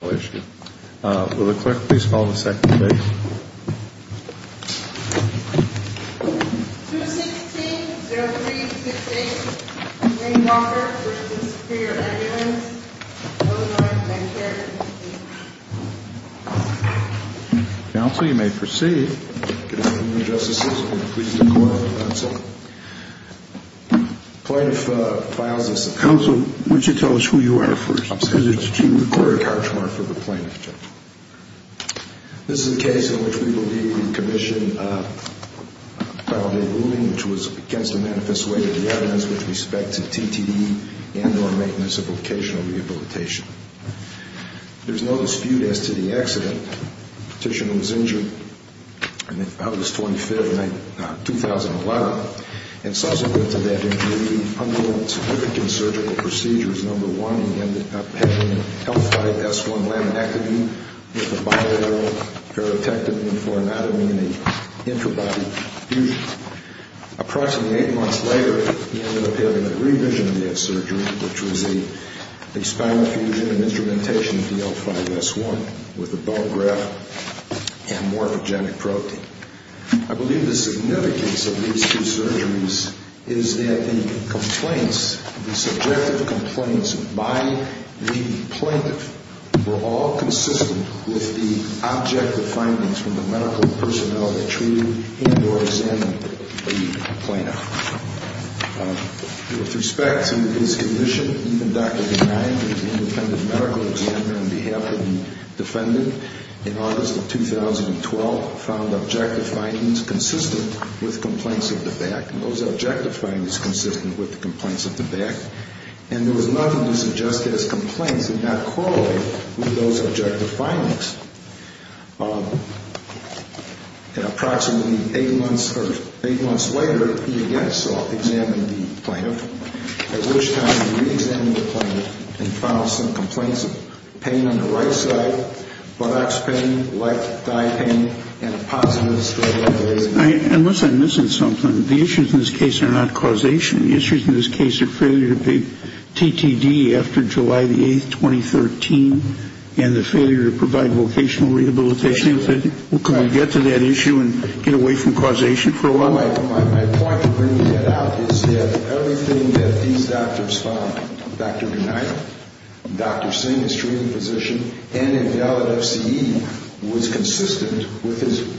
Will the clerk please call the second case? 216-0368, Wayne Walker v. Superior Ambulance, Illinois, N.C. Counsel, you may proceed. Good afternoon, Justices. I'm going to plead the court, that's all. The plaintiff files this appeal. Counsel, would you tell us who you are first? Because it's to the court of charge for the plaintiff, Judge. This is the case in which we believe we commissioned a final day ruling which was against the manifesto weight of the evidence with respect to TTE and or maintenance of vocational rehabilitation. There's no dispute as to the accident. The patient was injured on August 25, 2011. And subsequent to that injury, he underwent significant surgical procedures. Number one, he ended up having L5-S1 laminectomy with a bilateral paratectomy for anatomy and an intrabody fusion. Approximately eight months later, he ended up having a revision of that surgery, which was a spinal fusion and instrumentation of the L5-S1 with a bone graft and morphogenic protein. I believe the significance of these two surgeries is that the complaints, the subjective complaints by the plaintiff were all consistent with the objective findings from the medical and personality treating and or examining the plaintiff. With respect to his condition, even Dr. DeNine, the independent medical examiner on behalf of the defendant, in August of 2012 found objective findings consistent with complaints of the back, and those objective findings consistent with the complaints of the back. And there was nothing to suggest that his complaints did not correlate with those objective findings. Approximately eight months later, he again self-examined the plaintiff. At which time he re-examined the plaintiff and found some complaints of pain on the right side, buttocks pain, leg, thigh pain, and a positive histo- Unless I'm missing something, the issues in this case are not causation. The issues in this case are failure to pay TTD after July 8, 2013, and the failure to provide vocational rehabilitation. Can we get to that issue and get away from causation for a while? My point in bringing that out is that everything that these doctors found, Dr. DeNine, Dr. Singh, his treating physician, and his fellow FCE, was consistent with his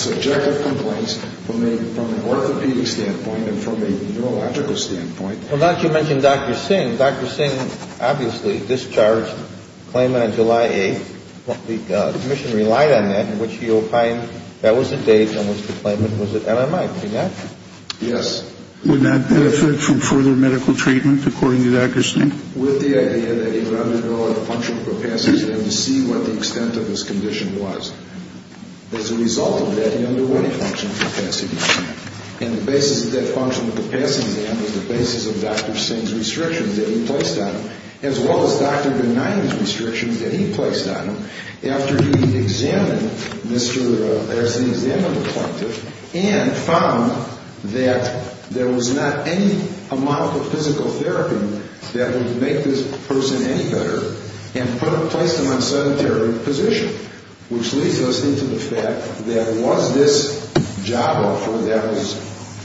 subjective complaints from an orthopedic standpoint and from a neurological standpoint. Well, now that you mention Dr. Singh, Dr. Singh obviously discharged the claimant on July 8th. The commission relied on that, in which he opined that was the date on which the claimant was at MMI. Is that correct? Yes. Would that benefit from further medical treatment, according to Dr. Singh? With the idea that he would undergo a functional capacity exam to see what the extent of his condition was. As a result of that, he underwent a functional capacity exam. And the basis of that functional capacity exam was the basis of Dr. Singh's restrictions that he placed on him, as well as Dr. DeNine's restrictions that he placed on him, after he examined Mr. Singh's MMI plaintiff and found that there was not any amount of physical therapy that would make this person any better, and placed him on sedentary position, which leads us into the fact that was this job offer that was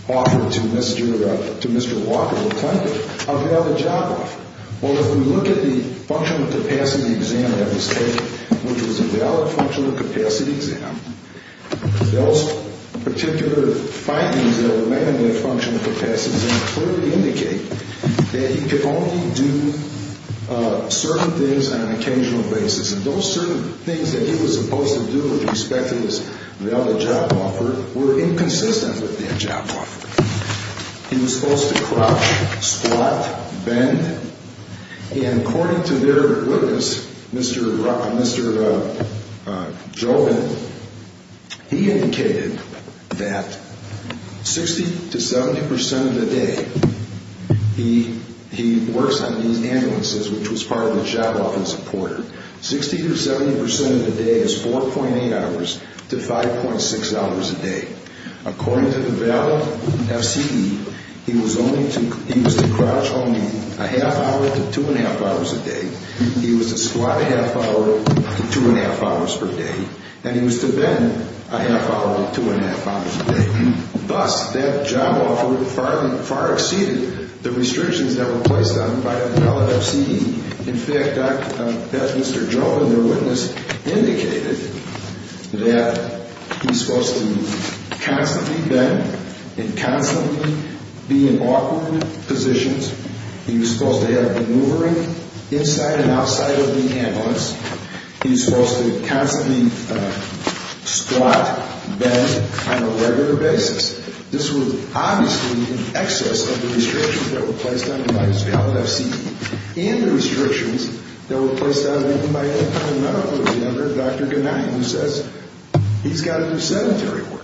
offered to Mr. Walker, the plaintiff? How could I have the job offer? Well, if we look at the functional capacity exam that was taken, which was a valid functional capacity exam, those particular findings that were made on that functional capacity exam clearly indicate that he could only do certain things on an occasional basis. And those certain things that he was supposed to do with respect to his valid job offer were inconsistent with that job offer. He was supposed to crouch, squat, bend, and according to their witness, Mr. Jogan, he indicated that 60 to 70 percent of the day he works on these ambulances, which was part of the job offer supported. 60 to 70 percent of the day is 4.8 hours to 5.6 hours a day. According to the valid FCE, he was to crouch only a half hour to two and a half hours a day. He was to squat a half hour to two and a half hours per day. And he was to bend a half hour to two and a half hours a day. Thus, that job offer far exceeded the restrictions that were placed on him by the valid FCE. In fact, Mr. Jogan, their witness, indicated that he was supposed to constantly bend and constantly be in awkward positions. He was supposed to have maneuvering inside and outside of the ambulance. He was supposed to constantly squat, bend on a regular basis. This was obviously in excess of the restrictions that were placed on him by his valid FCE and the restrictions that were placed on him even by any kind of medical examiner, Dr. Gennady, who says he's got to do sedentary work.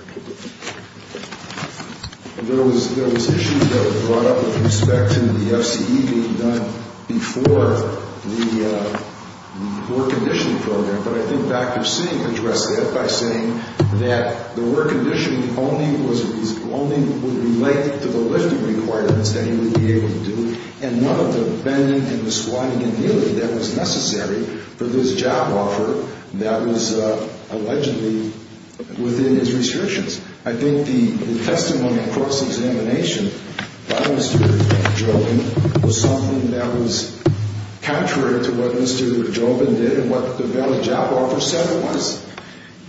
There was issues that were brought up with respect to the FCE being done before the work conditioning program, but I think Dr. Singh addressed that by saying that the work conditioning only would relate to the lifting requirements that he would be able to do, and none of the bending and the squatting and kneeling that was necessary for this job offer that was allegedly within his restrictions. I think the testimony and cross-examination by Mr. Jogan was something that was contrary to what Mr. Jogan did and what the valid job offer said it was.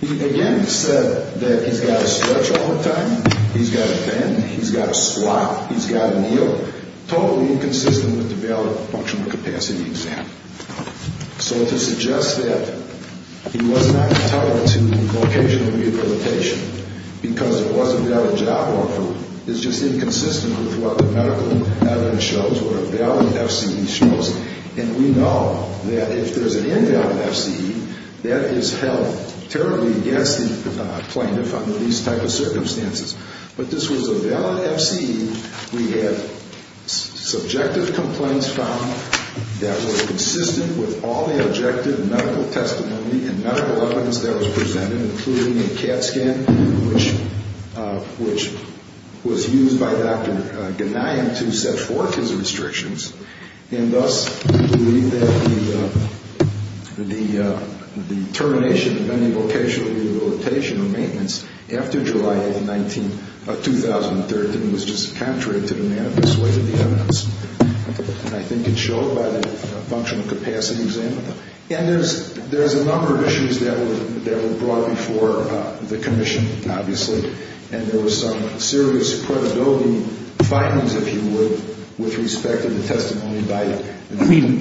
He again said that he's got to stretch all the time, he's got to bend, he's got to squat, he's got to kneel, totally inconsistent with the valid functional capacity exam. So to suggest that he was not intolerant to vocational rehabilitation because it was a valid job offer is just inconsistent with what the medical evidence shows, what a valid FCE shows, and we know that if there's an invalid FCE, that is held terribly against the plaintiff under these types of circumstances. But this was a valid FCE. We have subjective complaints found that were consistent with all the objective medical testimony and medical evidence that was presented, including a CAT scan, which was used by Dr. Ghanaian to set forth his restrictions, and thus we believe that the termination of any vocational rehabilitation or maintenance after July 8, 2013 was just contrary to the manifest weight of the evidence. And I think it showed by the functional capacity exam. And there's a number of issues that were brought before the commission, obviously, and there was some serious credibility findings, if you would, with respect to the testimony by the team.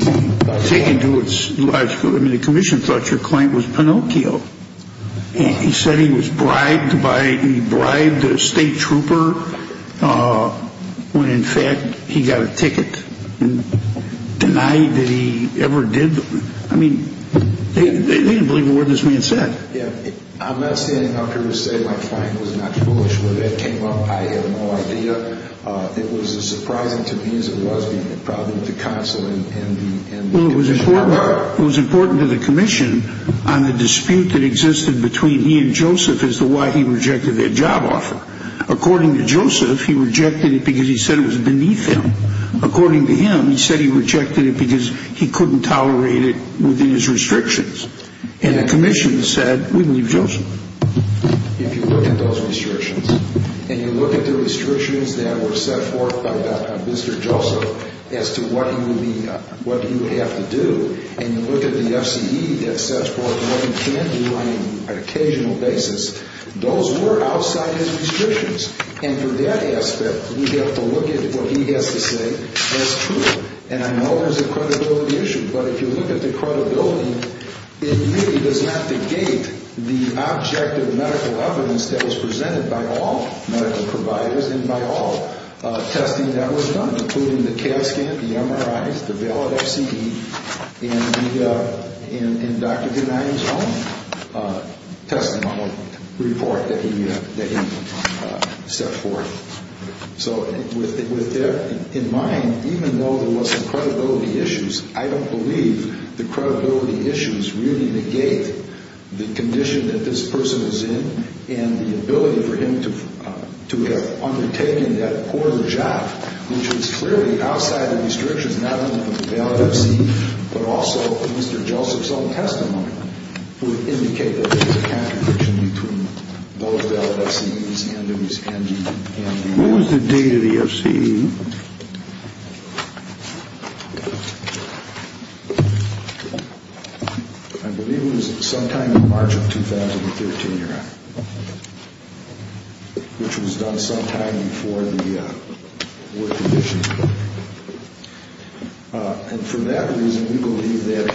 I mean, taken to its logical, I mean, the commission thought your client was Pinocchio. He said he was bribed by, he bribed a state trooper when, in fact, he got a ticket, and denied that he ever did. I mean, they didn't believe a word this man said. Yeah, I'm not standing up here to say my client was not foolish. Whether that came up, I have no idea. It was as surprising to me as it was the problem with the consulate. Well, it was important to the commission on the dispute that existed between he and Joseph as to why he rejected their job offer. According to Joseph, he rejected it because he said it was beneath him. According to him, he said he rejected it because he couldn't tolerate it within his restrictions. And the commission said, we believe Joseph. If you look at those restrictions and you look at the restrictions that were set forth by Mr. Joseph as to what he would be, what he would have to do, and you look at the F.C.E. that sets forth what he can do on an occasional basis, those were outside his restrictions. And from that aspect, we have to look at what he has to say as true. And I know there's a credibility issue. But if you look at the credibility, it really does not negate the objective medical evidence that was presented by all medical providers and by all testing that was done, including the CAD scan, the MRIs, the valid F.C.E., and Dr. Gennady's own testimony report that he set forth. So with that in mind, even though there was some credibility issues, I don't believe the credibility issues really negate the condition that this person is in and the ability for him to have undertaken that poor job, which was clearly outside the restrictions, not only of the valid F.C.E., but also of Mr. Joseph's own testimony, would indicate that there was a contradiction between those valid F.C.E.s and his M.D. What was the date of the F.C.E.? I believe it was sometime in March of 2013, your Honor, which was done sometime before the work condition. And for that reason, we believe that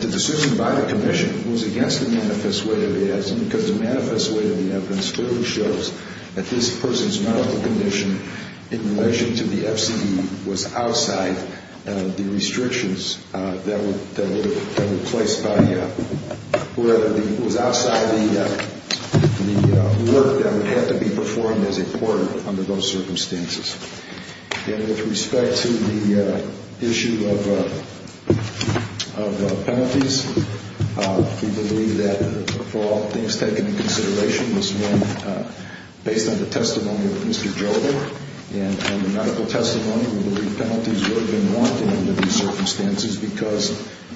the decision by the Commission was against the manifest way of the evidence because the manifest way of the evidence clearly shows that this person's medical condition in relation to the F.C.E. was outside the restrictions that were placed by whoever was outside the work and therefore that would have to be performed as a court under those circumstances. And with respect to the issue of penalties, we believe that for all things taken into consideration, this one, based on the testimony of Mr. Joseph and the medical testimony, we believe penalties would have been warranted under these circumstances because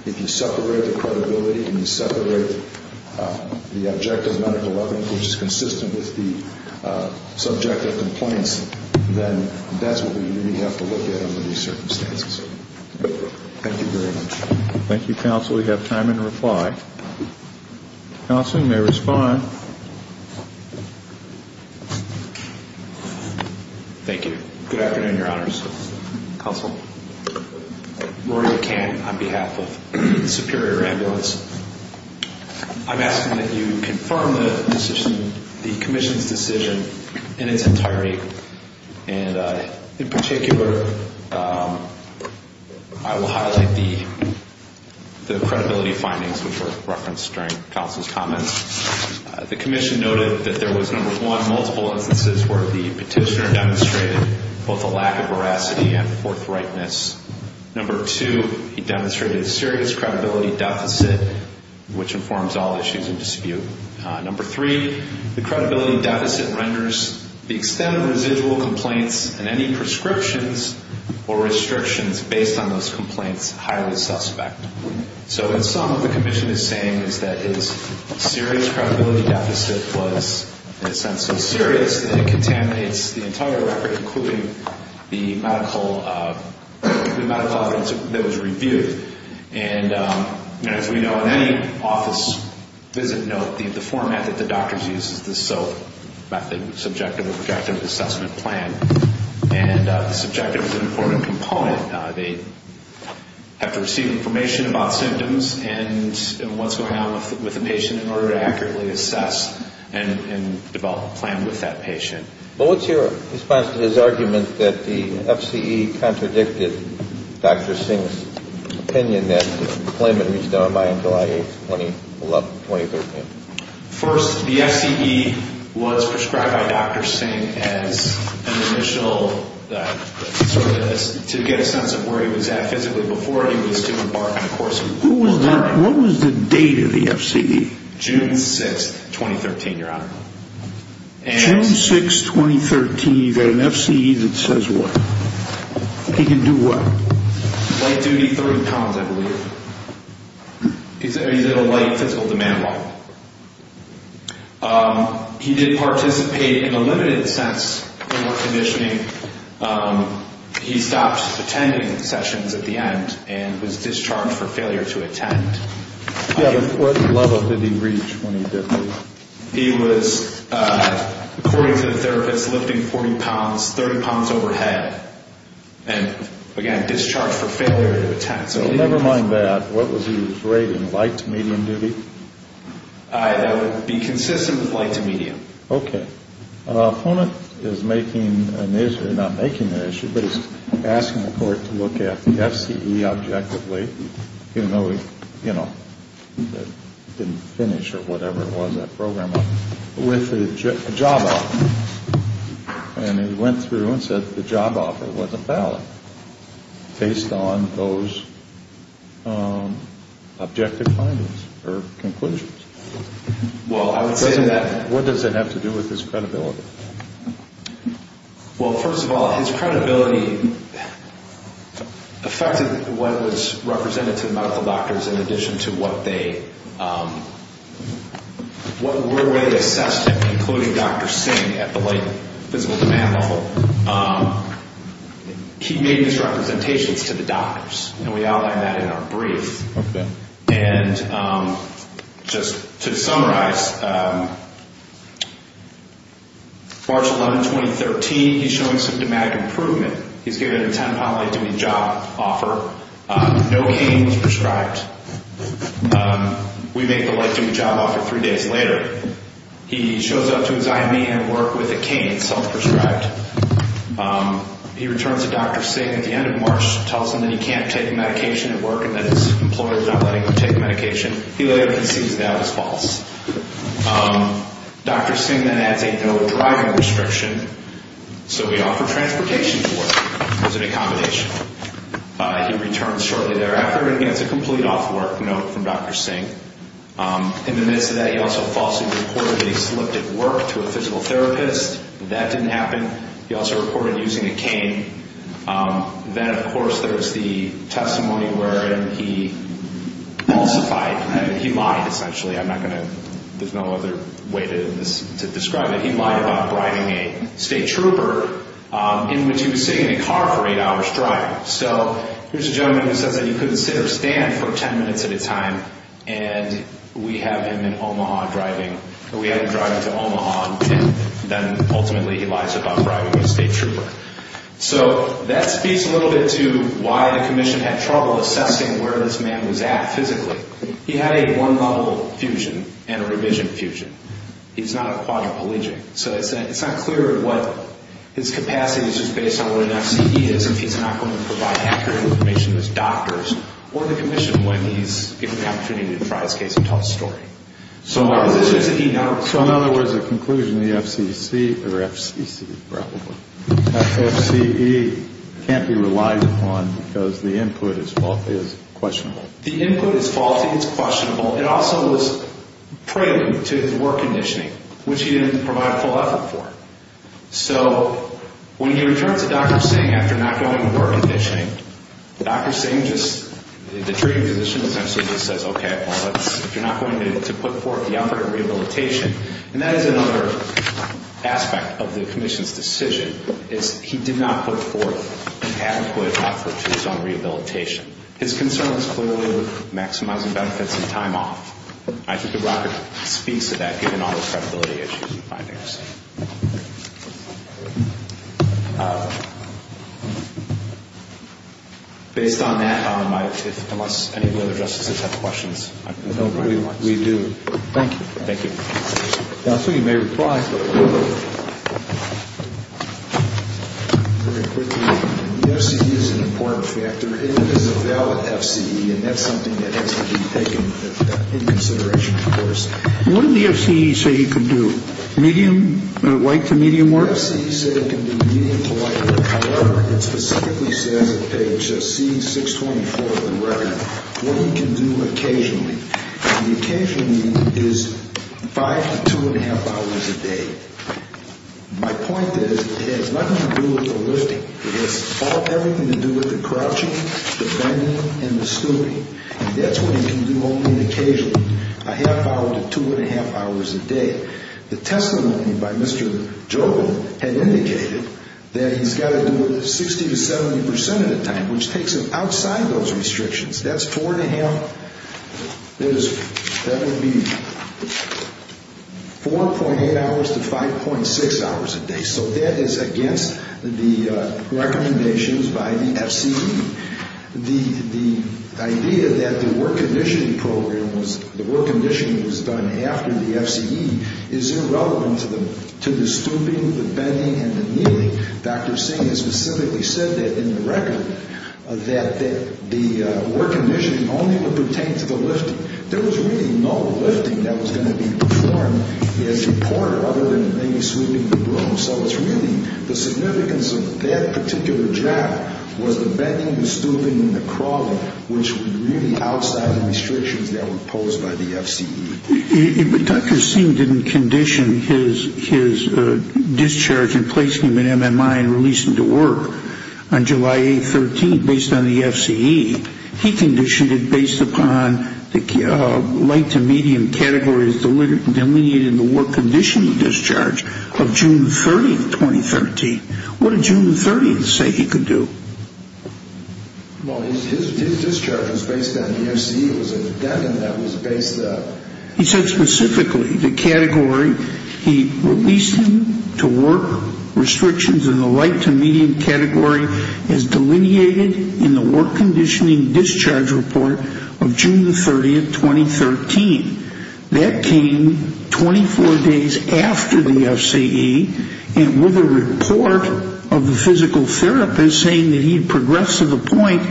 if you separate the credibility and you separate the objective medical evidence, which is consistent with the subject of complaints, then that's what we really have to look at under these circumstances. Thank you very much. Thank you, Counsel. We have time in reply. Counsel, you may respond. Thank you. Good afternoon, your Honors. Counsel. Rory McCann on behalf of Superior Ambulance. I'm asking that you confirm the Commission's decision in its entirety. And in particular, I will highlight the credibility findings which were referenced during Counsel's comments. The Commission noted that there was, number one, multiple instances where the petitioner demonstrated both a lack of veracity and forthrightness. Number two, he demonstrated a serious credibility deficit, which informs all issues in dispute. Number three, the credibility deficit renders the extent of residual complaints and any prescriptions or restrictions based on those complaints highly suspect. So in sum, what the Commission is saying is that his serious credibility deficit was, in a sense, so serious that it contaminates the entire record, including the medical evidence that was reviewed. And as we know, in any office visit note, the format that the doctors use is the SOAP method, Subjective Objective Assessment Plan. And the subjective is an important component. They have to receive information about symptoms and what's going on with the patient in order to accurately assess and develop a plan with that patient. But what's your response to his argument that the FCE contradicted Dr. Singh's opinion that the employment reached an MMI on July 8th, 2013? First, the FCE was prescribed by Dr. Singh as an initial sort of to get a sense of where he was at physically. What was the date of the FCE? June 6th, 2013, Your Honor. June 6th, 2013. An FCE that says what? He can do what? Light-duty three pounds, I believe. He's at a light physical demand level. He did participate in a limited sense in what conditioning. He stopped attending sessions at the end and was discharged for failure to attend. What level did he reach when he didn't? He was, according to the therapist, lifting 40 pounds, 30 pounds overhead. And, again, discharged for failure to attend. Never mind that. What was his rating, light to medium duty? That would be consistent with light to medium. Okay. The opponent is making an issue, not making an issue, but he's asking the court to look at the FCE objectively, even though he, you know, didn't finish or whatever it was that program was, with a job offer. And he went through and said the job offer wasn't valid based on those objective findings or conclusions. Well, I would say that... What does that have to do with his credibility? Well, first of all, his credibility affected what was represented to the medical doctors in addition to what they were really assessed at, including Dr. Singh at the light physical demand level. He made his representations to the doctors, and we outline that in our brief. Okay. And just to summarize, March 11, 2013, he's showing symptomatic improvement. He's given a 10-pound light duty job offer. No cane was prescribed. We make the light duty job offer three days later. He shows up to his IME and work with a cane, self-prescribed. He returns to Dr. Singh at the end of March, tells him that he can't take medication at work and that his employer is not letting him take medication. He later concedes that was false. Dr. Singh then adds a no driving restriction, so he offered transportation to work as an accommodation. He returns shortly thereafter and gets a complete off work note from Dr. Singh. In the midst of that, he also falsely reported that he slipped at work to a physical therapist. He also reported using a cane. Then, of course, there was the testimony wherein he falsified and he lied, essentially. I'm not going to – there's no other way to describe it. He lied about driving a state trooper in which he was sitting in a car for eight hours driving. So here's a gentleman who says that he couldn't sit or stand for 10 minutes at a time, and we have him in Omaha driving – we have him driving to Omaha, and then ultimately he lies about driving a state trooper. So that speaks a little bit to why the commission had trouble assessing where this man was at physically. He had a one-level fusion and a revision fusion. He's not a quadriplegic. So it's not clear what his capacity is just based on what an FCE is, if he's not going to provide accurate information to his doctors or the commission when he's given the opportunity to try his case and tell a story. So in other words, the conclusion, the FCC – or FCC, probably – that FCE can't be relied upon because the input is questionable. The input is faulty, it's questionable. It also was prudent to his work conditioning, which he didn't provide full effort for. So when he returned to Dr. Singh after not going to work conditioning, Dr. Singh just – the treating physician essentially just says, okay, well, if you're not going to put forth the effort in rehabilitation – and that is another aspect of the commission's decision, is he did not put forth an adequate effort to his own rehabilitation. His concern was clearly with maximizing benefits and time off. I think the record speaks to that, given all the credibility issues and findings. Based on that, unless any of the other justices have questions. We do. Thank you. Thank you. Dr. Singh, you may reply. Very quickly, the FCE is an important factor. It is a valid FCE, and that's something that has to be taken into consideration, of course. Medium, medium, or large? Light to medium work? The FCE said it can be medium to light work. However, it specifically says on page C624 of the record what you can do occasionally. And the occasionally is five to two and a half hours a day. My point is it has nothing to do with the lifting. It has everything to do with the crouching, the bending, and the stooping. And that's what you can do only occasionally, a half hour to two and a half hours a day. The testimony by Mr. Joe had indicated that he's got to do it 60 to 70 percent of the time, which takes him outside those restrictions. That's four and a half, that would be 4.8 hours to 5.6 hours a day. So that is against the recommendations by the FCE. The idea that the work conditioning program was, the work conditioning was done after the FCE is irrelevant to the stooping, the bending, and the kneeling. Dr. Singh has specifically said that in the record, that the work conditioning only would pertain to the lifting. There was really no lifting that was going to be performed as reported other than maybe sweeping the room. So it's really the significance of that particular job was the bending, the stooping, and the crawling, which were really outside the restrictions that were imposed by the FCE. Dr. Singh didn't condition his discharge and place him in MMI and release him to work on July 8, 2013, based on the FCE. He conditioned it based upon the light to medium categories delineated in the work conditioning discharge of June 30, 2013. What did June 30 say he could do? Well, his discharge was based on the FCE. It was a deadline that was based on... He said specifically the category, he released him to work restrictions in the light to medium category as delineated in the work conditioning discharge report of June 30, 2013. That came 24 days after the FCE and with a report of the physical therapist saying that he progressed to the point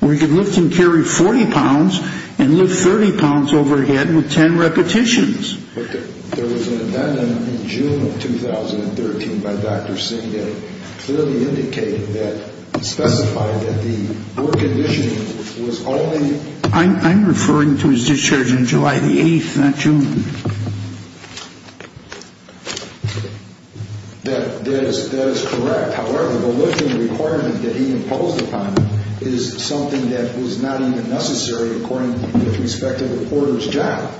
where he could lift and carry 40 pounds and lift 30 pounds overhead with 10 repetitions. There was an amendment in June of 2013 by Dr. Singh that clearly indicated that specified that the work conditioning was only... I'm referring to his discharge on July the 8th, not June. That is correct. However, the lifting requirement that he imposed upon him is something that was not even necessary according to the respective reporter's job.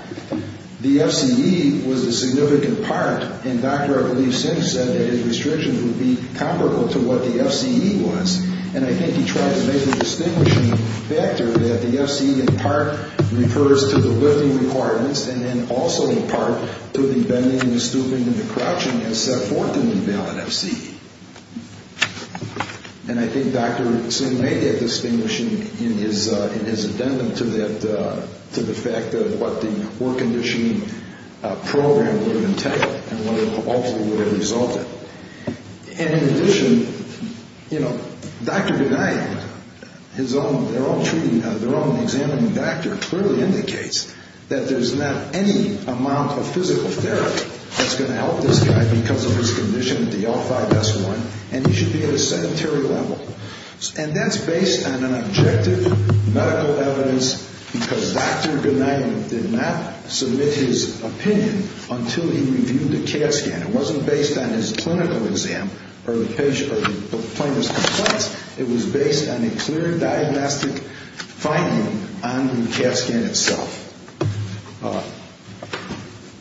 The FCE was a significant part, and Dr. I believe Singh said that his restrictions would be comparable to what the FCE was. And I think he tried to make a distinguishing factor that the FCE in part refers to the lifting requirements and then also in part to the bending, the stooping, and the crouching as set forth in the valid FCE. And I think Dr. Singh made that distinguishing in his addendum to the fact of what the work conditioning program would have entailed and what it ultimately would have resulted. And in addition, you know, Dr. Ghani, his own, they're all treating, their own examining doctor clearly indicates that there's not any amount of physical therapy that's going to help this guy because of his condition with the L5S1, and he should be at a sedentary level. And that's based on an objective medical evidence because Dr. Ghani did not submit his opinion until he reviewed the CAT scan. It wasn't based on his clinical exam or the patient or the plaintiff's complaints. It was based on a clear diagnostic finding on the CAT scan itself.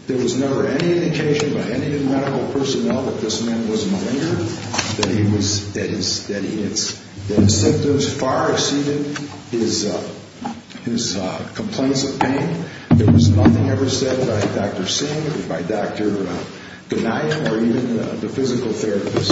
There was never any indication by any of the medical personnel that this man was malignant, that his symptoms far exceeded his complaints of pain. There was nothing ever said by Dr. Singh or by Dr. Ghani or even the physical therapist.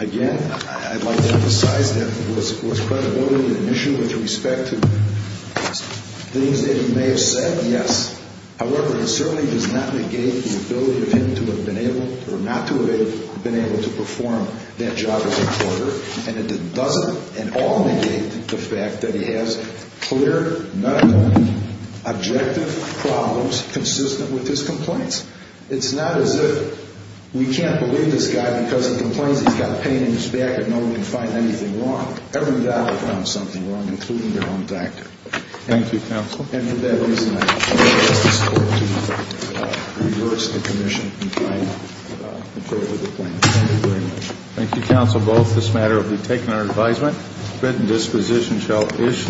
Again, I'd like to emphasize that was credibility an issue with respect to things that he may have said, yes. However, it certainly does not negate the ability of him to have been able or not to have been able to perform that job as a court. And it doesn't at all negate the fact that he has clear, non-objective problems consistent with his complaints. It's not as if we can't believe this guy because he complains he's got pain in his back and no one can find anything wrong. Every doctor found something wrong, including their own doctor. Thank you, counsel. And for that reason, I ask the Justice Department to reverse the commission and find control of the plaintiff. Thank you very much. Thank you, counsel, both. This matter will be taken under advisement. Benton Disposition shall issue.